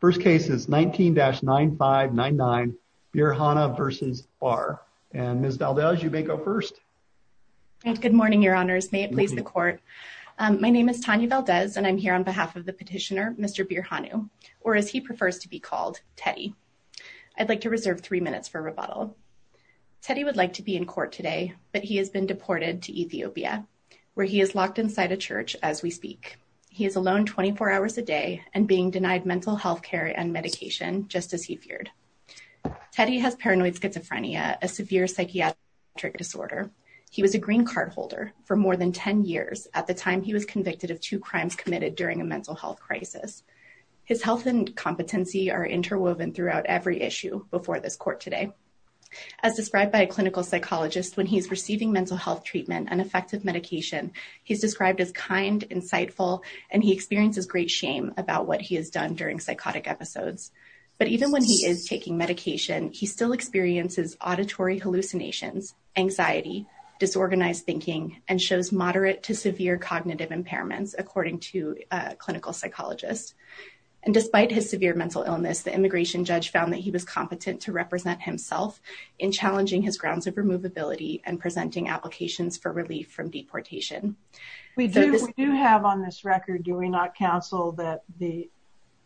First case is 19-9599, Birhanu v. Barr. And Ms. Valdez, you may go first. Good morning, your honors. May it please the court. My name is Tanya Valdez, and I'm here on behalf of the petitioner, Mr. Birhanu, or as he prefers to be called, Teddy. I'd like to reserve three minutes for rebuttal. Teddy would like to be in court today, but he has been deported to Ethiopia, where he is locked inside a church as we speak. He is alone 24 hours a day and being denied mental health care and medication, just as he feared. Teddy has paranoid schizophrenia, a severe psychiatric disorder. He was a green card holder for more than 10 years at the time he was convicted of two crimes committed during a mental health crisis. His health and competency are interwoven throughout every issue before this court today. As described by a clinical psychologist, when he's receiving mental health treatment and effective medication, he's described as kind, insightful, and he experiences great shame about what he has done during psychotic episodes. But even when he is taking medication, he still experiences auditory hallucinations, anxiety, disorganized thinking, and shows moderate to severe cognitive impairments, according to a clinical psychologist. And despite his severe mental illness, the immigration judge found that he was competent to represent himself in challenging his grounds of removability and We do have on this record, do we not counsel that the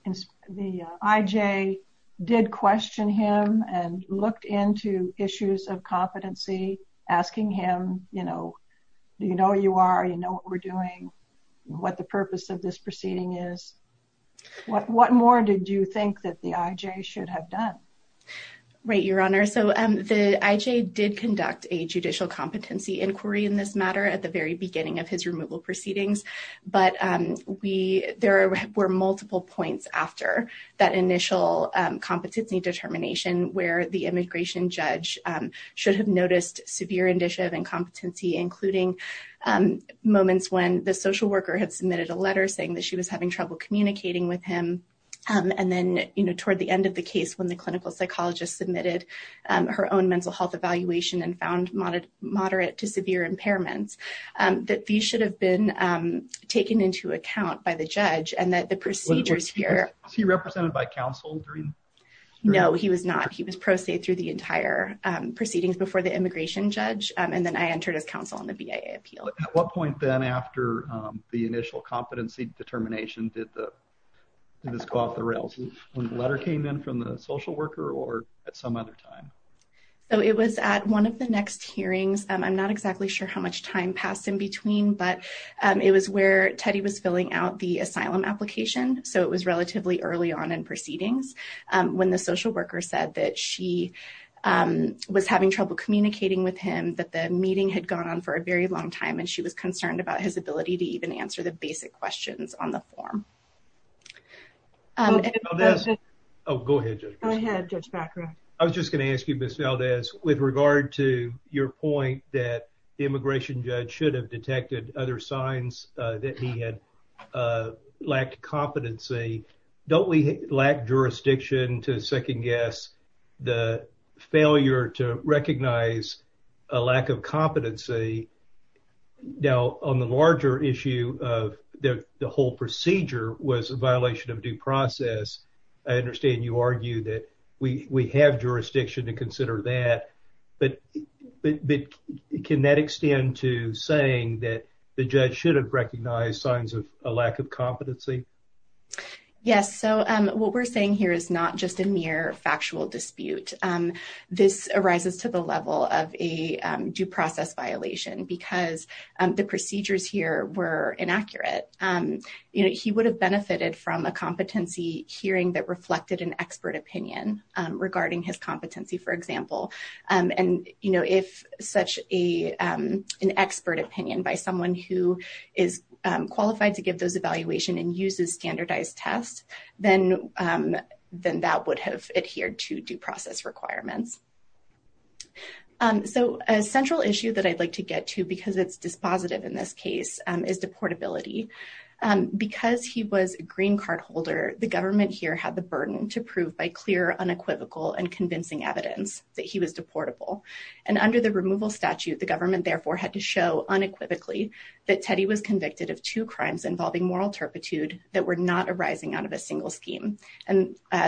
IJ did question him and looked into issues of competency, asking him, you know, do you know who you are? You know what we're doing? What the purpose of this proceeding is? What more did you think that the IJ should have done? Right, Your Honor. So the IJ did conduct a judicial competency inquiry in this matter at the very beginning of his removal proceedings. But we, there were multiple points after that initial competency determination where the immigration judge should have noticed severe indicia of incompetency, including moments when the social worker had submitted a letter saying that she was having trouble communicating with him. And then, you know, toward the end of the case when the clinical psychologist submitted her own mental health evaluation and found moderate to severe impairments, that these should have been taken into account by the judge and that the procedures here... Was he represented by counsel during? No, he was not. He was pro se through the entire proceedings before the immigration judge. And then I entered as counsel on the BIA appeal. At what point then after the initial competency determination did the, did this go off the rails when the letter came in from the social worker or at some other time? So it was at one of the next hearings. I'm not exactly sure how much time passed in between, but it was where Teddy was filling out the asylum application. So it was relatively early on in proceedings when the social worker said that she was having trouble communicating with him, that the meeting had gone on for a very long time and she was concerned about his ability to even answer the basic questions on the form. Oh, go ahead. I was just going to ask you, Ms. Valdez, with regard to your point that the immigration judge should have detected other signs that he had lacked competency. Don't we lack jurisdiction to second guess the failure to recognize a lack of competency now on the larger issue of the whole procedure was a violation of due process. I understand you argue that we have jurisdiction to consider that, but can that extend to saying that the judge should have recognized signs of a lack of competency? Yes. So what we're saying here is not just a mere factual dispute. This arises to the level of a due process violation because the procedures here were inaccurate. He would have benefited from a competency hearing that reflected an expert opinion regarding his competency, for example. And if such an expert opinion by someone who is qualified to give those evaluation and uses standardized tests, then that would have adhered to due process requirements. So a central issue that I'd like to get to, because it's dispositive in this case, is deportability. Because he was a green card holder, the government here had the burden to prove by clear unequivocal and convincing evidence that he was deportable. And under the removal statute, the government therefore had to show unequivocally that Teddy was convicted of two crimes. And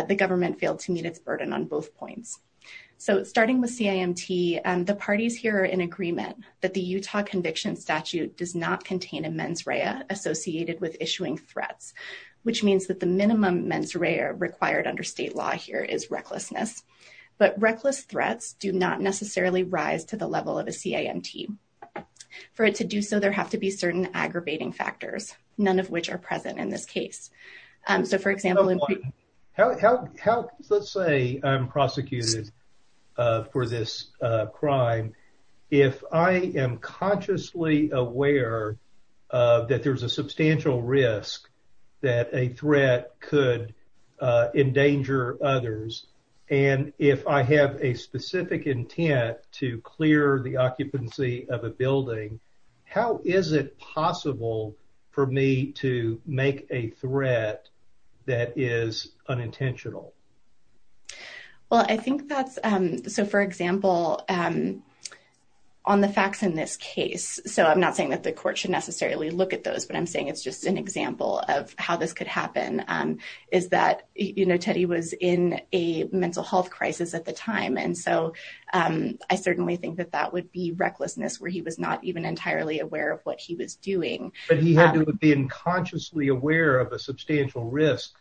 the government failed to meet its burden on both points. So starting with CIMT, the parties here are in agreement that the Utah conviction statute does not contain a mens rea associated with issuing threats, which means that the minimum mens rea required under state law here is recklessness. But reckless threats do not necessarily rise to the level of a CIMT. For it to do so, there have to be certain aggravating factors, none of which are present in this case. So for example... How, let's say I'm prosecuted for this crime, if I am consciously aware that there's a substantial risk that a threat could endanger others, and if I have a specific intent to clear the occupancy of a building, how is it possible for me to make a threat that is unintentional? Well, I think that's... So for example, on the facts in this case, so I'm not saying that the court should necessarily look at those, but I'm saying it's just an example of how this could happen, is that Teddy was in a mental health crisis at the time. And so I certainly think that that would be recklessness, where he was not even entirely aware of what he was doing. But he had to have been consciously aware of a substantial risk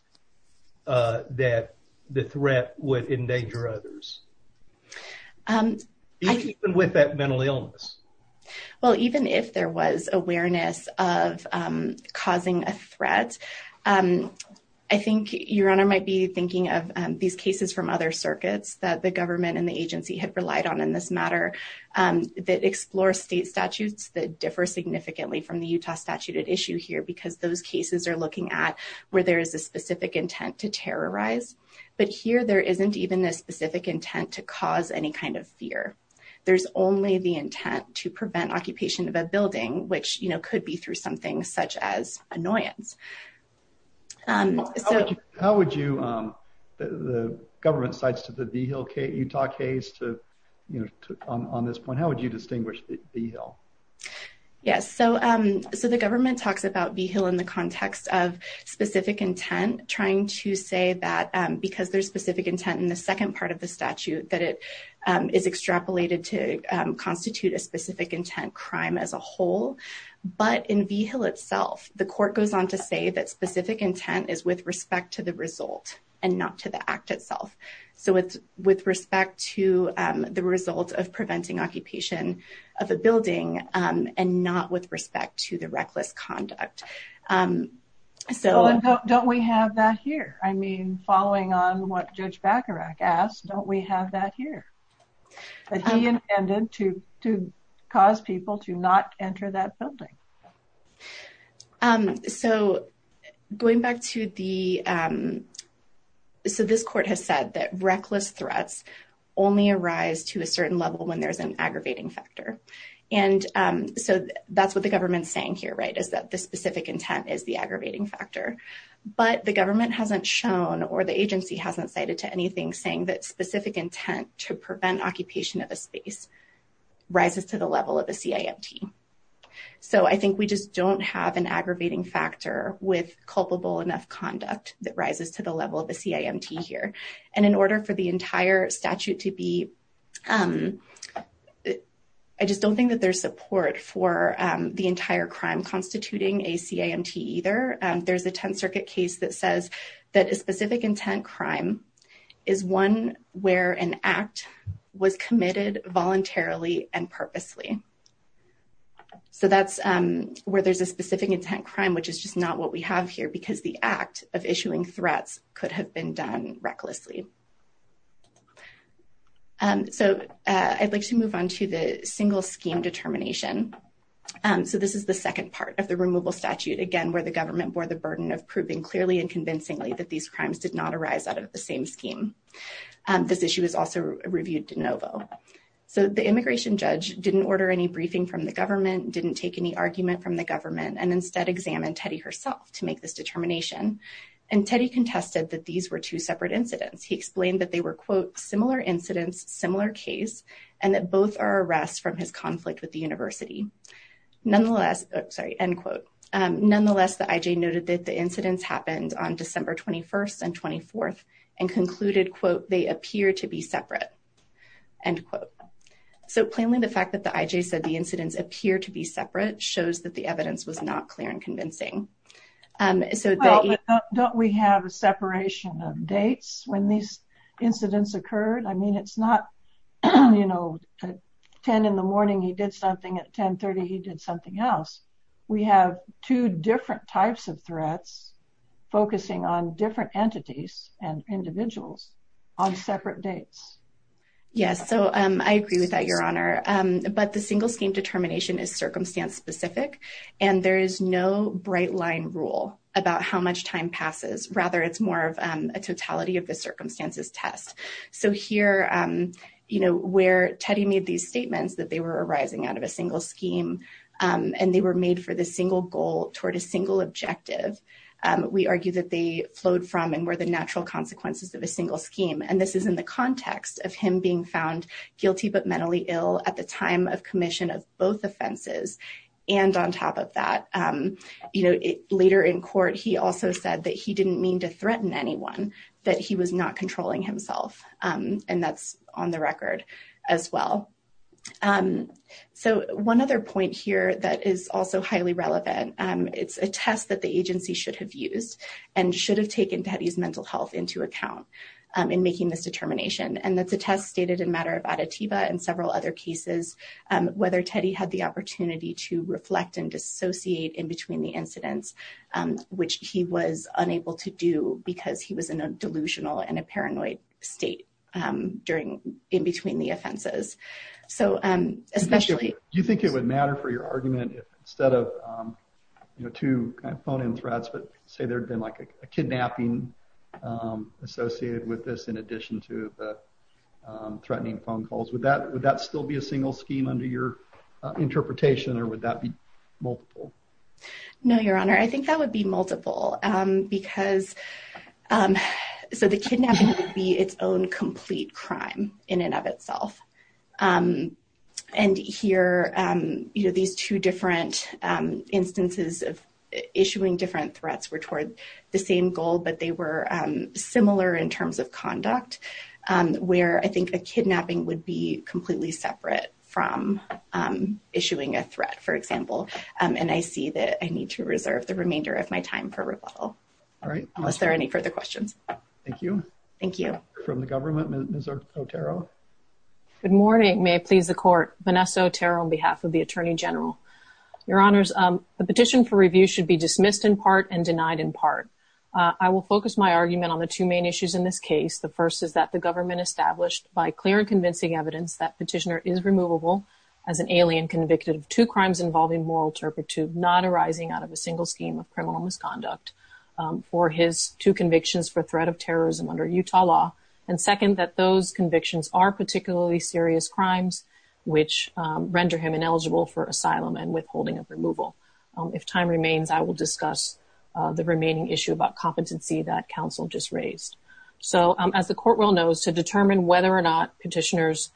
that the threat would endanger others, even with that mental illness. Well, even if there was awareness of causing a threat, I think Your Honor might be thinking of these cases from other circuits that government and the agency had relied on in this matter, that explore state statutes that differ significantly from the Utah statute at issue here, because those cases are looking at where there is a specific intent to terrorize. But here, there isn't even a specific intent to cause any kind of fear. There's only the intent to prevent occupation of a building, which could be through something such as annoyance. How would you, the government cites the Vigil case, Utah case, on this point, how would you distinguish Vigil? Yes, so the government talks about Vigil in the context of specific intent, trying to say that because there's specific intent in the second part of the statute, that it is extrapolated to Vigil itself. The court goes on to say that specific intent is with respect to the result, and not to the act itself. So it's with respect to the result of preventing occupation of a building, and not with respect to the reckless conduct. So don't we have that here? I mean, following on what Judge Bacharach asked, don't we have that here? That he intended to cause people to not enter that building. So going back to the, so this court has said that reckless threats only arise to a certain level when there's an aggravating factor. And so that's what the government's saying here, right, is that the specific intent is the aggravating factor. But the government hasn't shown, or the prevent occupation of a space rises to the level of a CIMT. So I think we just don't have an aggravating factor with culpable enough conduct that rises to the level of a CIMT here. And in order for the entire statute to be, I just don't think that there's support for the entire crime constituting a CIMT either. There's a Tenth Circuit case that says that a specific intent crime is one where an act was committed voluntarily and purposely. So that's where there's a specific intent crime, which is just not what we have here, because the act of issuing threats could have been done recklessly. So I'd like to move on to the single scheme determination. So this is the second part of the removal statute, again, where the government bore the burden of proving clearly and convincingly these crimes did not arise out of the same scheme. This issue is also reviewed de novo. So the immigration judge didn't order any briefing from the government, didn't take any argument from the government, and instead examined Teddy herself to make this determination. And Teddy contested that these were two separate incidents. He explained that they were, quote, similar incidents, similar case, and that both are arrests from his conflict with the university. Nonetheless, sorry, end quote. Nonetheless, the IJ noted that the incidents happened on December 21st and 24th and concluded, quote, they appear to be separate, end quote. So plainly, the fact that the IJ said the incidents appear to be separate shows that the evidence was not clear and convincing. So don't we have a separation of dates when these incidents occurred? I mean, it's not, you know, 10 in the morning, he did something at 1030, he did something else. We have two different types of threats, focusing on different entities and individuals on separate dates. Yes, so I agree with that, Your Honor. But the single scheme determination is circumstance specific. And there is no bright line rule about how much time passes. Rather, it's more of a circumstances test. So here, you know, where Teddy made these statements that they were arising out of a single scheme, and they were made for the single goal toward a single objective, we argue that they flowed from and were the natural consequences of a single scheme. And this is in the context of him being found guilty, but mentally ill at the time of commission of both offenses. And on top of that, you know, later in court, he also said that he didn't mean to threaten anyone, that he was not controlling himself. And that's on the record, as well. So one other point here that is also highly relevant, it's a test that the agency should have used, and should have taken Teddy's mental health into account in making this determination. And that's a test stated in matter of additiva and several other cases, whether Teddy had the opportunity to reflect and dissociate in between the incidents, which he was unable to do, because he was in a delusional and a paranoid state during in between the offenses. So, especially, you think it would matter for your argument, instead of, you know, to phone in threats, but say there'd been like a kidnapping associated with this, in addition to the threatening phone calls with that, would that still be a single scheme under your interpretation? Or would that be multiple? No, Your Honor, I think that would be multiple. Because so the kidnapping would be its own complete crime in and of itself. And here, you know, these two different instances of issuing different threats were toward the same goal, but they were similar in terms of conduct, where I think a kidnapping would be completely separate from issuing a threat, for example. And I see that I need to reserve the remainder of my time for rebuttal. All right. Unless there are any further questions. Thank you. Thank you. From the government, Ms. Otero. Good morning. May it please the Court. Vanessa Otero on behalf of the Attorney General. Your Honors, the petition for review should be dismissed in part and denied in part. I will focus my argument on the two main issues in this case. The first is that the government established by clear and convincing evidence that petitioner is removable as an alien convicted of crimes involving moral turpitude not arising out of a single scheme of criminal misconduct for his two convictions for threat of terrorism under Utah law. And second, that those convictions are particularly serious crimes, which render him ineligible for asylum and withholding of removal. If time remains, I will discuss the remaining issue about competency that counsel just raised. So as the court will know, to determine whether or not petitioner's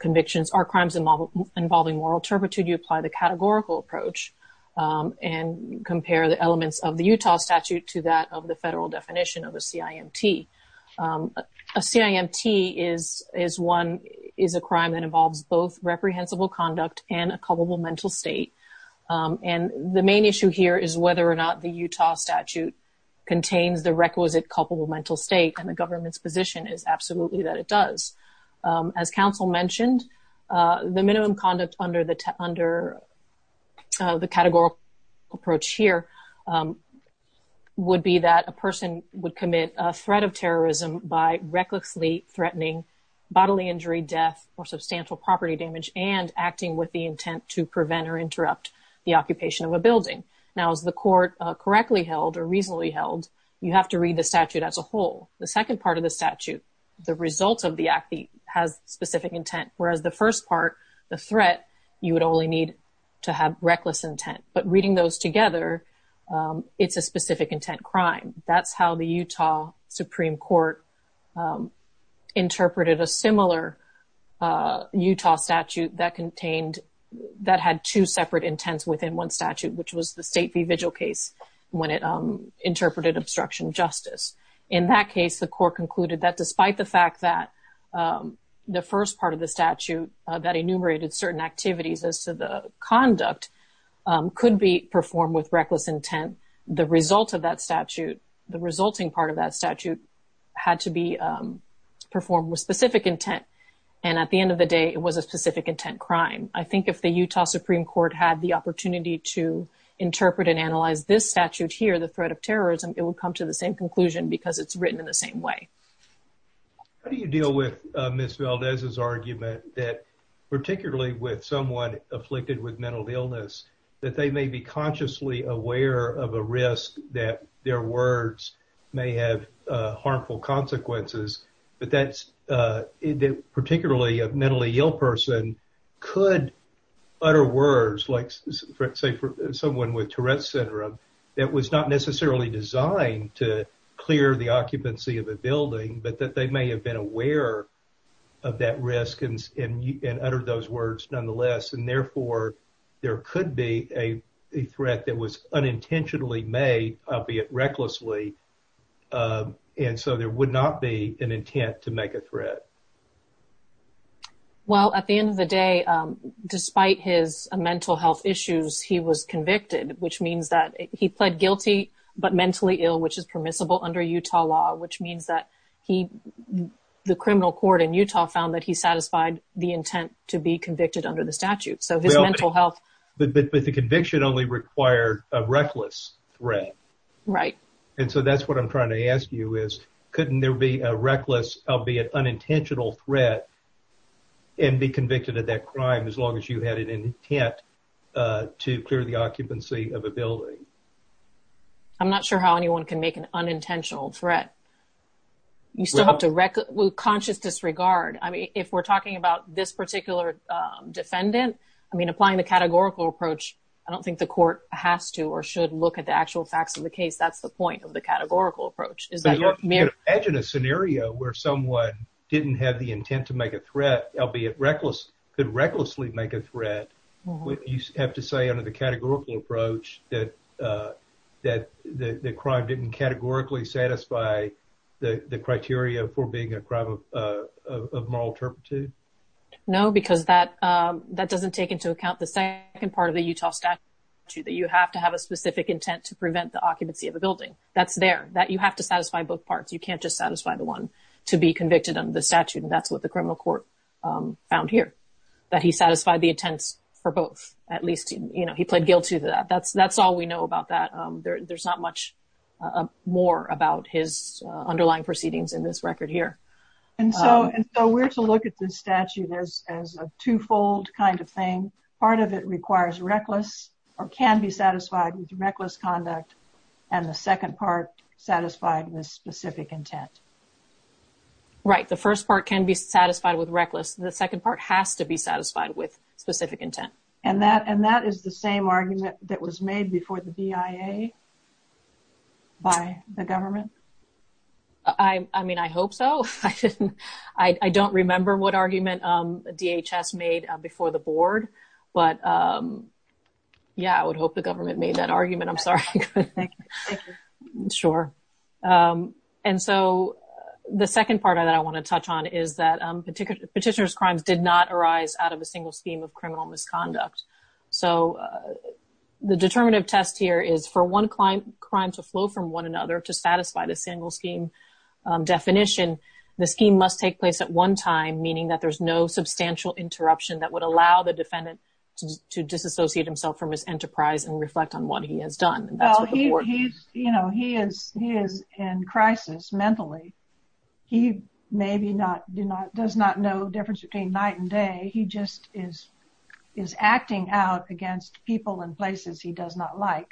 convictions are crimes involving moral turpitude, you apply the categorical approach and compare the elements of the Utah statute to that of the federal definition of a CIMT. A CIMT is a crime that involves both reprehensible conduct and a culpable mental state. And the main issue here is whether or not the Utah statute contains the requisite culpable mental state, and the government's position is absolutely that it does. As counsel mentioned, the minimum conduct under the categorical approach here would be that a person would commit a threat of terrorism by recklessly threatening bodily injury, death, or substantial property damage, and acting with the intent to prevent or interrupt the occupation of a building. Now as the court correctly held or reasonably held, you have to read the statute as a whole. The second part of the statute, the result of the act has specific intent, whereas the first part, the threat, you would only need to have reckless intent. But reading those together, it's a specific intent crime. That's how the Utah Supreme Court interpreted a similar Utah statute that contained, that had two separate intents within one statute, which was the state v. vigil case when it interpreted obstruction of justice. In that case, the court concluded that despite the fact that the first part of the statute that enumerated certain activities as to the conduct could be performed with reckless intent, the result of that statute, the resulting part of that statute, had to be performed with specific intent. And at the end of the day, it was a specific intent crime. I think if the Utah Supreme Court had the opportunity to interpret and analyze this statute here, the threat of terrorism, it would come to the same conclusion because it's written in the same way. How do you deal with Ms. Valdez's argument that particularly with someone afflicted with mental illness, that they may be consciously aware of a risk that their words may have harmful consequences, but that particularly a mentally ill person could utter words, like say for someone with Tourette's syndrome, that was not necessarily designed to clear the occupancy of a building, but that they may have been aware of that risk and uttered those words nonetheless. And therefore, there could be a threat that was unintentionally made, albeit recklessly, and so there would not be an intent to make a threat. Well, at the end of the day, despite his mental health issues, he was convicted, which means that he pled guilty but mentally ill, which is permissible under Utah law, which means that the criminal court in Utah found that he satisfied the intent to be convicted under the statute. So, his mental health... But the conviction only required a reckless threat. Right. And so, that's what I'm trying to ask you is, couldn't there be a reckless, albeit unintentional threat and be convicted of that crime as long as you had an intent to clear the occupancy of a building? I'm not sure how anyone can make an unintentional threat. You still have to recklessly, with conscious disregard. I mean, if we're talking about this applying the categorical approach, I don't think the court has to or should look at the actual facts of the case. That's the point of the categorical approach. But you can imagine a scenario where someone didn't have the intent to make a threat, albeit could recklessly make a threat. You have to say under the categorical approach that the crime didn't categorically satisfy the criteria for being a crime of moral turpitude? No, because that doesn't take into account the second part of the Utah statute, that you have to have a specific intent to prevent the occupancy of a building. That's there, that you have to satisfy both parts. You can't just satisfy the one to be convicted under the statute. And that's what the criminal court found here, that he satisfied the intent for both. At least he pled guilty to that. That's all we know about that. There's not much more about his underlying proceedings in this record here. And so we're to look at this statute as a twofold kind of thing. Part of it requires reckless or can be satisfied with reckless conduct, and the second part satisfied with specific intent. Right. The first part can be satisfied with reckless. The second part has to be satisfied with specific intent. And that is the same I mean, I hope so. I don't remember what argument DHS made before the board. But yeah, I would hope the government made that argument. I'm sorry. Sure. And so the second part of that I want to touch on is that petitioner's crimes did not arise out of a single scheme of criminal misconduct. So the determinative test here is for one crime to flow from one another to satisfy the single scheme definition. The scheme must take place at one time, meaning that there's no substantial interruption that would allow the defendant to disassociate himself from his enterprise and reflect on what he has done. He is in crisis mentally. He maybe does not know difference between night and day. He just is acting out against people in places he does not like.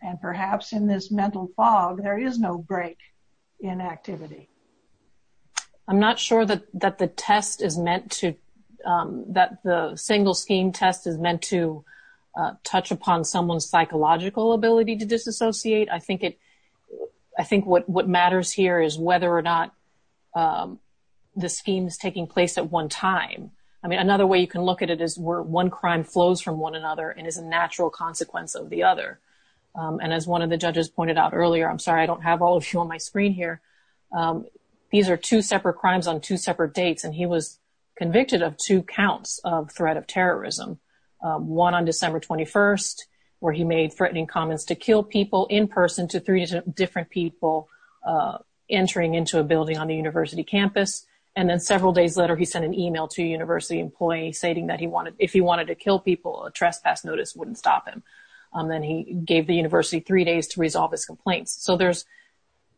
And perhaps in this mental fog, there is no break in activity. I'm not sure that the single scheme test is meant to touch upon someone's psychological ability to disassociate. I think what matters here is whether or not the scheme is taking place at one time. I mean, another way you can look at it is where one crime flows from one another and is a natural consequence of the other. And as one of the judges pointed out earlier, I'm sorry, I don't have all of you on my screen here. These are two separate crimes on two separate dates, and he was convicted of two counts of threat of terrorism. One on December 21st, where he made threatening comments to kill people in person to three different people entering into a building on the university campus. And then several days later, he sent an email to a university employee stating that if he wanted to trespass, notice wouldn't stop him. Then he gave the university three days to resolve his complaints. So there's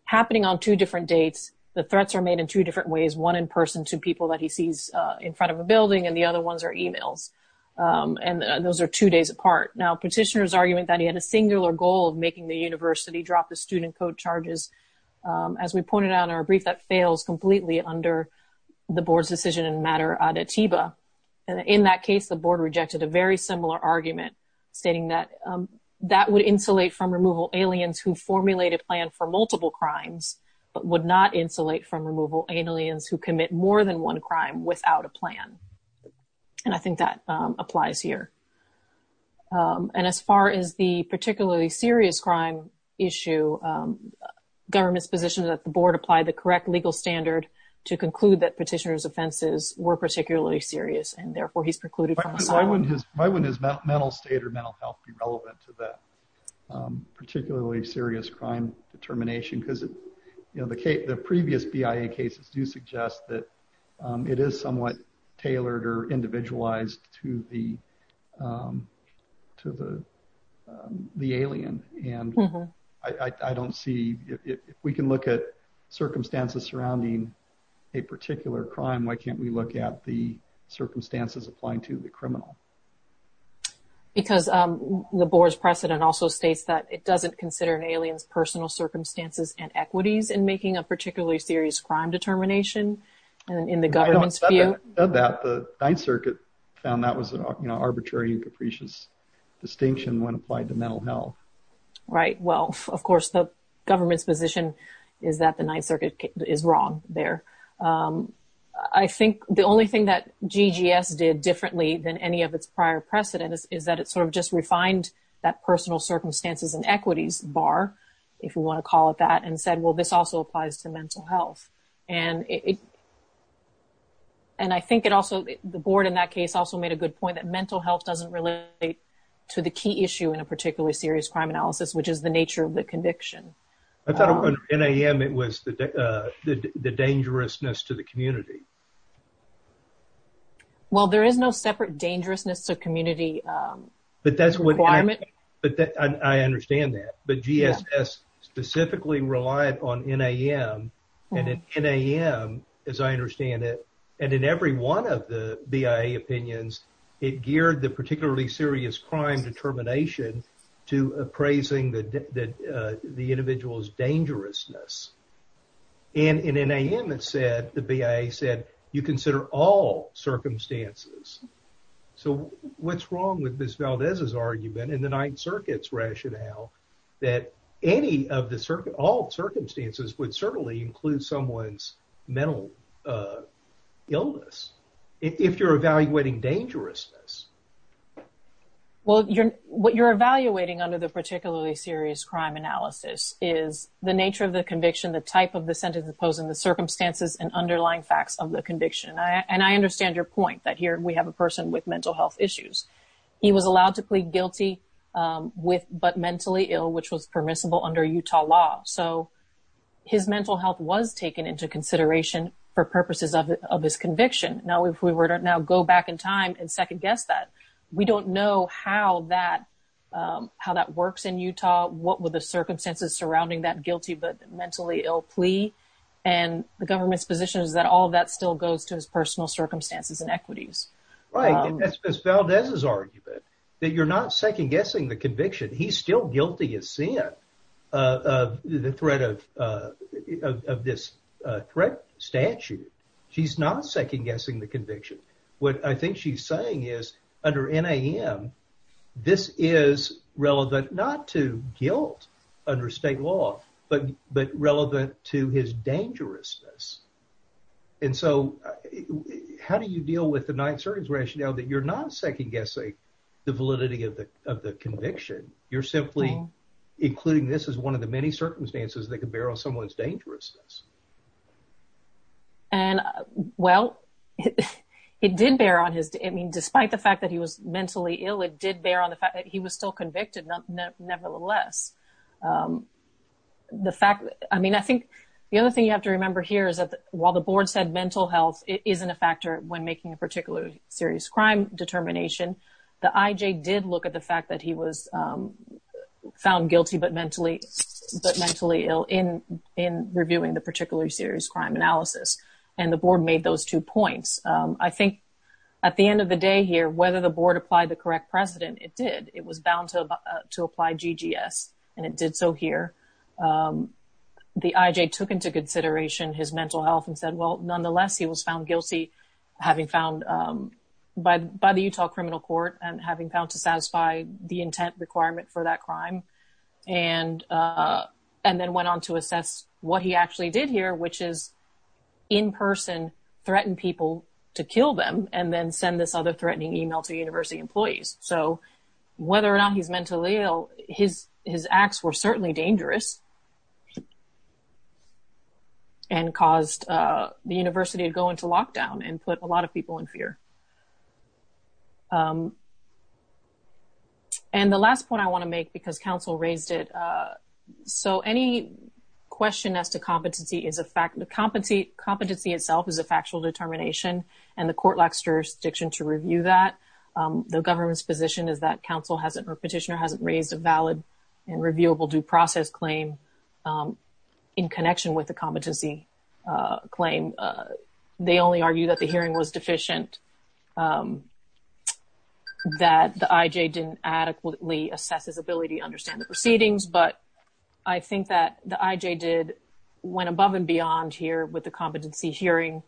happening on two different dates. The threats are made in two different ways, one in person to people that he sees in front of a building, and the other ones are emails. And those are two days apart. Now, petitioners argument that he had a singular goal of making the university drop the student code charges. As we pointed out in our brief, that fails completely under the board's decision in matter ad atiba. And in that case, the board rejected a very similar argument stating that that would insulate from removal aliens who formulate a plan for multiple crimes, but would not insulate from removal aliens who commit more than one crime without a plan. And I think that applies here. And as far as the particularly serious crime issue, government's position is that the board applied the correct legal standard to conclude that petitioner's offenses were particularly serious, and therefore he's precluded from asylum. Why wouldn't his mental state or mental health be relevant to that particularly serious crime determination? Because the previous BIA cases do suggest that it is somewhat tailored or if we can look at circumstances surrounding a particular crime, why can't we look at the circumstances applying to the criminal? Because the board's precedent also states that it doesn't consider an alien's personal circumstances and equities in making a particularly serious crime determination in the government's view. The Ninth Circuit found that was an arbitrary and capricious distinction when applied to mental health. Right. Well, of course, the government's position is that the Ninth Circuit is wrong there. I think the only thing that GGS did differently than any of its prior precedents is that it sort of just refined that personal circumstances and equities bar, if you want to call it that, and said, well, this also applies to mental health. And I think it also, the board in that case also made a good point that mental health doesn't relate to the key issue in a particularly serious crime analysis, which is the nature of the conviction. I thought of NAM, it was the dangerousness to the community. Well, there is no separate dangerousness to community requirement. But that's what I, but I understand that. But GSS specifically relied on NAM and NAM, as I understand it, and in every one of the BIA opinions, it geared the particularly serious crime determination to appraising that the individual's dangerousness. And in NAM, it said, the BIA said, you consider all circumstances. So what's wrong with Ms. Valdez's argument in the Ninth Circuit's rationale that any of the, all circumstances would certainly include someone's mental illness, if you're evaluating dangerousness? Well, you're, what you're evaluating under the particularly serious crime analysis is the nature of the conviction, the type of the sentence imposed, and the circumstances and underlying facts of the conviction. And I understand your point that here we have a person with mental health issues. He was allowed to plead guilty with, but mentally ill, which was permissible under Utah law. So his mental health was taken into consideration for purposes of his conviction. Now, if we were to now go back in time and second guess that, we don't know how that, how that works in Utah. What were the circumstances surrounding that guilty, but mentally ill plea? And the government's position is that all of that still goes to his personal circumstances and equities. Right. And that's Ms. Valdez's argument, that you're not second guessing the conviction. He's still guilty of sin of the threat of, of this threat statute. She's not second guessing the conviction. What I think she's saying is under NAM, this is relevant, not to guilt under state law, but, but relevant to his dangerousness. And so how do you deal with the Ninth Circuit's rationale that you're not second guessing the validity of the conviction? You're simply including this as one of the many circumstances that can bear on someone's dangerousness. And well, it did bear on his, I mean, despite the fact that he was mentally ill, it did bear on the fact that he was still convicted. Nevertheless, the fact that, I mean, I think the other thing you have to remember here is that while the board said mental health isn't a factor when making a particular serious crime determination, the IJ did look at the fact that he was found guilty, but mentally, but mentally ill in, in reviewing the particular serious crime analysis. And the board made those two points. I think at the end of the day here, whether the board applied the correct precedent, it did. It was bound to apply GGS and it did so here. The IJ took into consideration his mental health and said, well, nonetheless, he was found guilty having found by, by the Utah criminal court and having found to satisfy the intent requirement for that crime. And and then went on to assess what he actually did here, which is in person threatened people to kill them and then send this other threatening email to university employees. So whether or not he's mentally ill, his, his acts were certainly dangerous and caused the university to go into lockdown and put a lot of people in fear. And the last point I want to make, because counsel raised it. So any question as to competency is a fact, the competency, competency itself is a factual determination and the court lacks jurisdiction to review that. The government's position is that counsel hasn't, or petitioner hasn't raised a valid and reviewable due process claim in connection with the competency claim. They only argue that the hearing was deficient, that the IJ didn't adequately assess his ability to understand the proceedings. But I think that the IJ did went above and beyond here with the competency hearing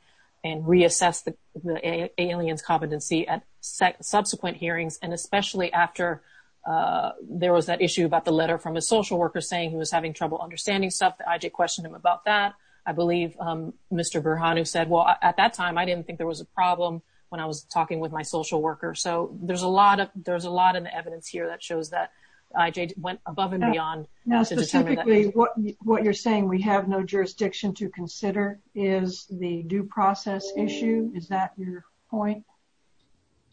and reassess the alien's competency at subsequent hearings. And especially after there was that issue about the letter from a social worker saying he was having trouble understanding stuff, the IJ questioned him about that. I believe Mr. Burhanu said, well, at that time, I didn't think there was a problem when I was talking with my social worker. So there's a lot of, there's a lot of evidence here that shows that IJ went above and beyond. Now specifically, what you're saying we have no jurisdiction to consider is the due process issue. Is that your point?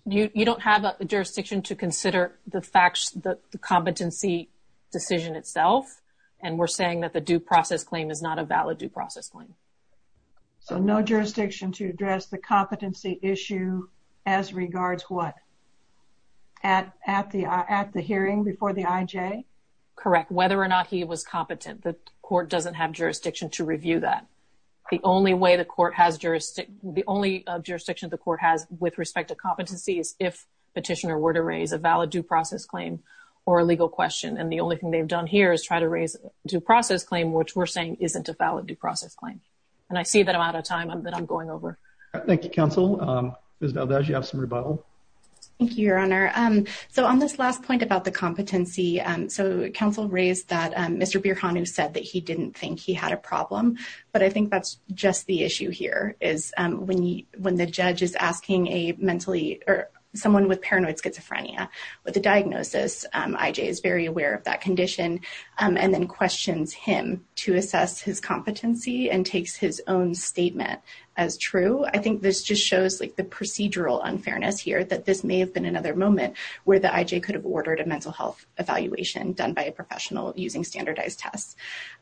You don't have a jurisdiction to consider the facts, the competency decision itself. And we're saying that the due process claim is not a valid due process claim. So no jurisdiction to address the competency issue as regards what? At the hearing before the IJ? Correct. Whether or not he was competent, the court doesn't have jurisdiction to review that. The only way the court has jurisdiction, the only jurisdiction the court has with respect to competency is if petitioner were to raise a valid due process claim or a legal question. And the only thing they've done here is try to raise a due process claim, which we're saying isn't a valid due process claim. And I see that I'm out of time, but I'm going over. Thank you, counsel. Ms. Valdez, you have some rebuttal. Thank you, your honor. So on this last point about the competency, so counsel raised that Mr. Burhanu said that he didn't think he had a problem, but I think that's just the issue here is when the judge is asking a mentally or someone with paranoid schizophrenia with a diagnosis, IJ is very aware of that condition and then questions him to assess his competency and takes his own statement as true. I think this just shows like the procedural unfairness here that this may have been another moment where the IJ could have ordered a mental health evaluation done by a professional using standardized tests.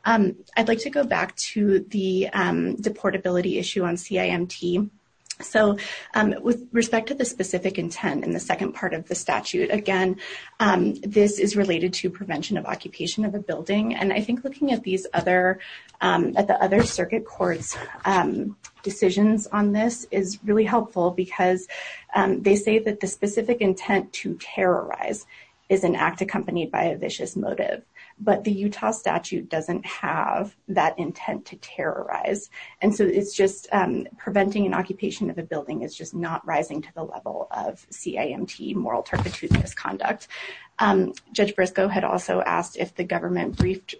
I'd like to go back to the deportability issue on CIMT. So with respect to the specific intent in the second part of the statute, again, this is related to prevention of occupation of a building. And I think looking at these other, at the other circuit court's decisions on this is really helpful because they say that the specific intent to terrorize is an act accompanied by a vicious motive, but the Utah statute doesn't have that intent to terrorize. And so it's just preventing an occupation of a building is just not rising to the level of CIMT, moral turpitude misconduct. Judge Briscoe had also asked if the government briefed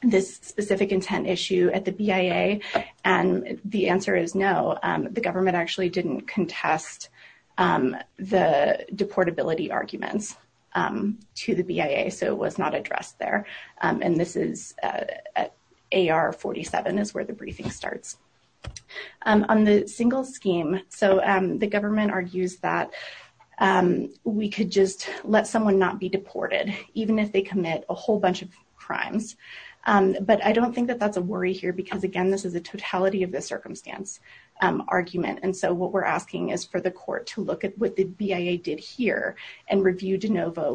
this specific intent issue at the BIA, and the answer is no. The government actually didn't contest the deportability arguments to the BIA, so it was not addressed there. And this is at AR 47 is where the briefing starts. On the single scheme, so the government argues that we could just let someone not be deported even if they commit a whole bunch of crimes. But I don't think that that's a worry here because again, this is a totality of the circumstance argument. And so what we're asking is for the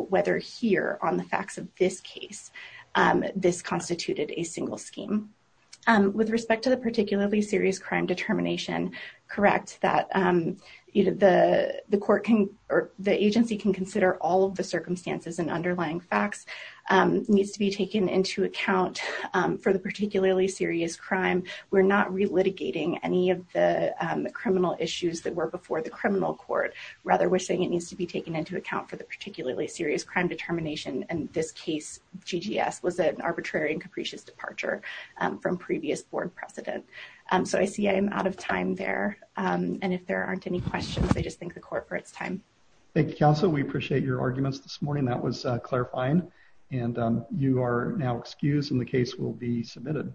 whether here on the facts of this case, this constituted a single scheme. With respect to the particularly serious crime determination, correct that the court can, or the agency can consider all of the circumstances and underlying facts needs to be taken into account for the particularly serious crime. We're not relitigating any of the criminal issues that were before the serious crime determination. In this case, GGS was an arbitrary and capricious departure from previous board precedent. So I see I'm out of time there. And if there aren't any questions, I just think the court for its time. Thank you, counsel. We appreciate your arguments this morning. That was clarifying. And you are now excused and the case will be submitted.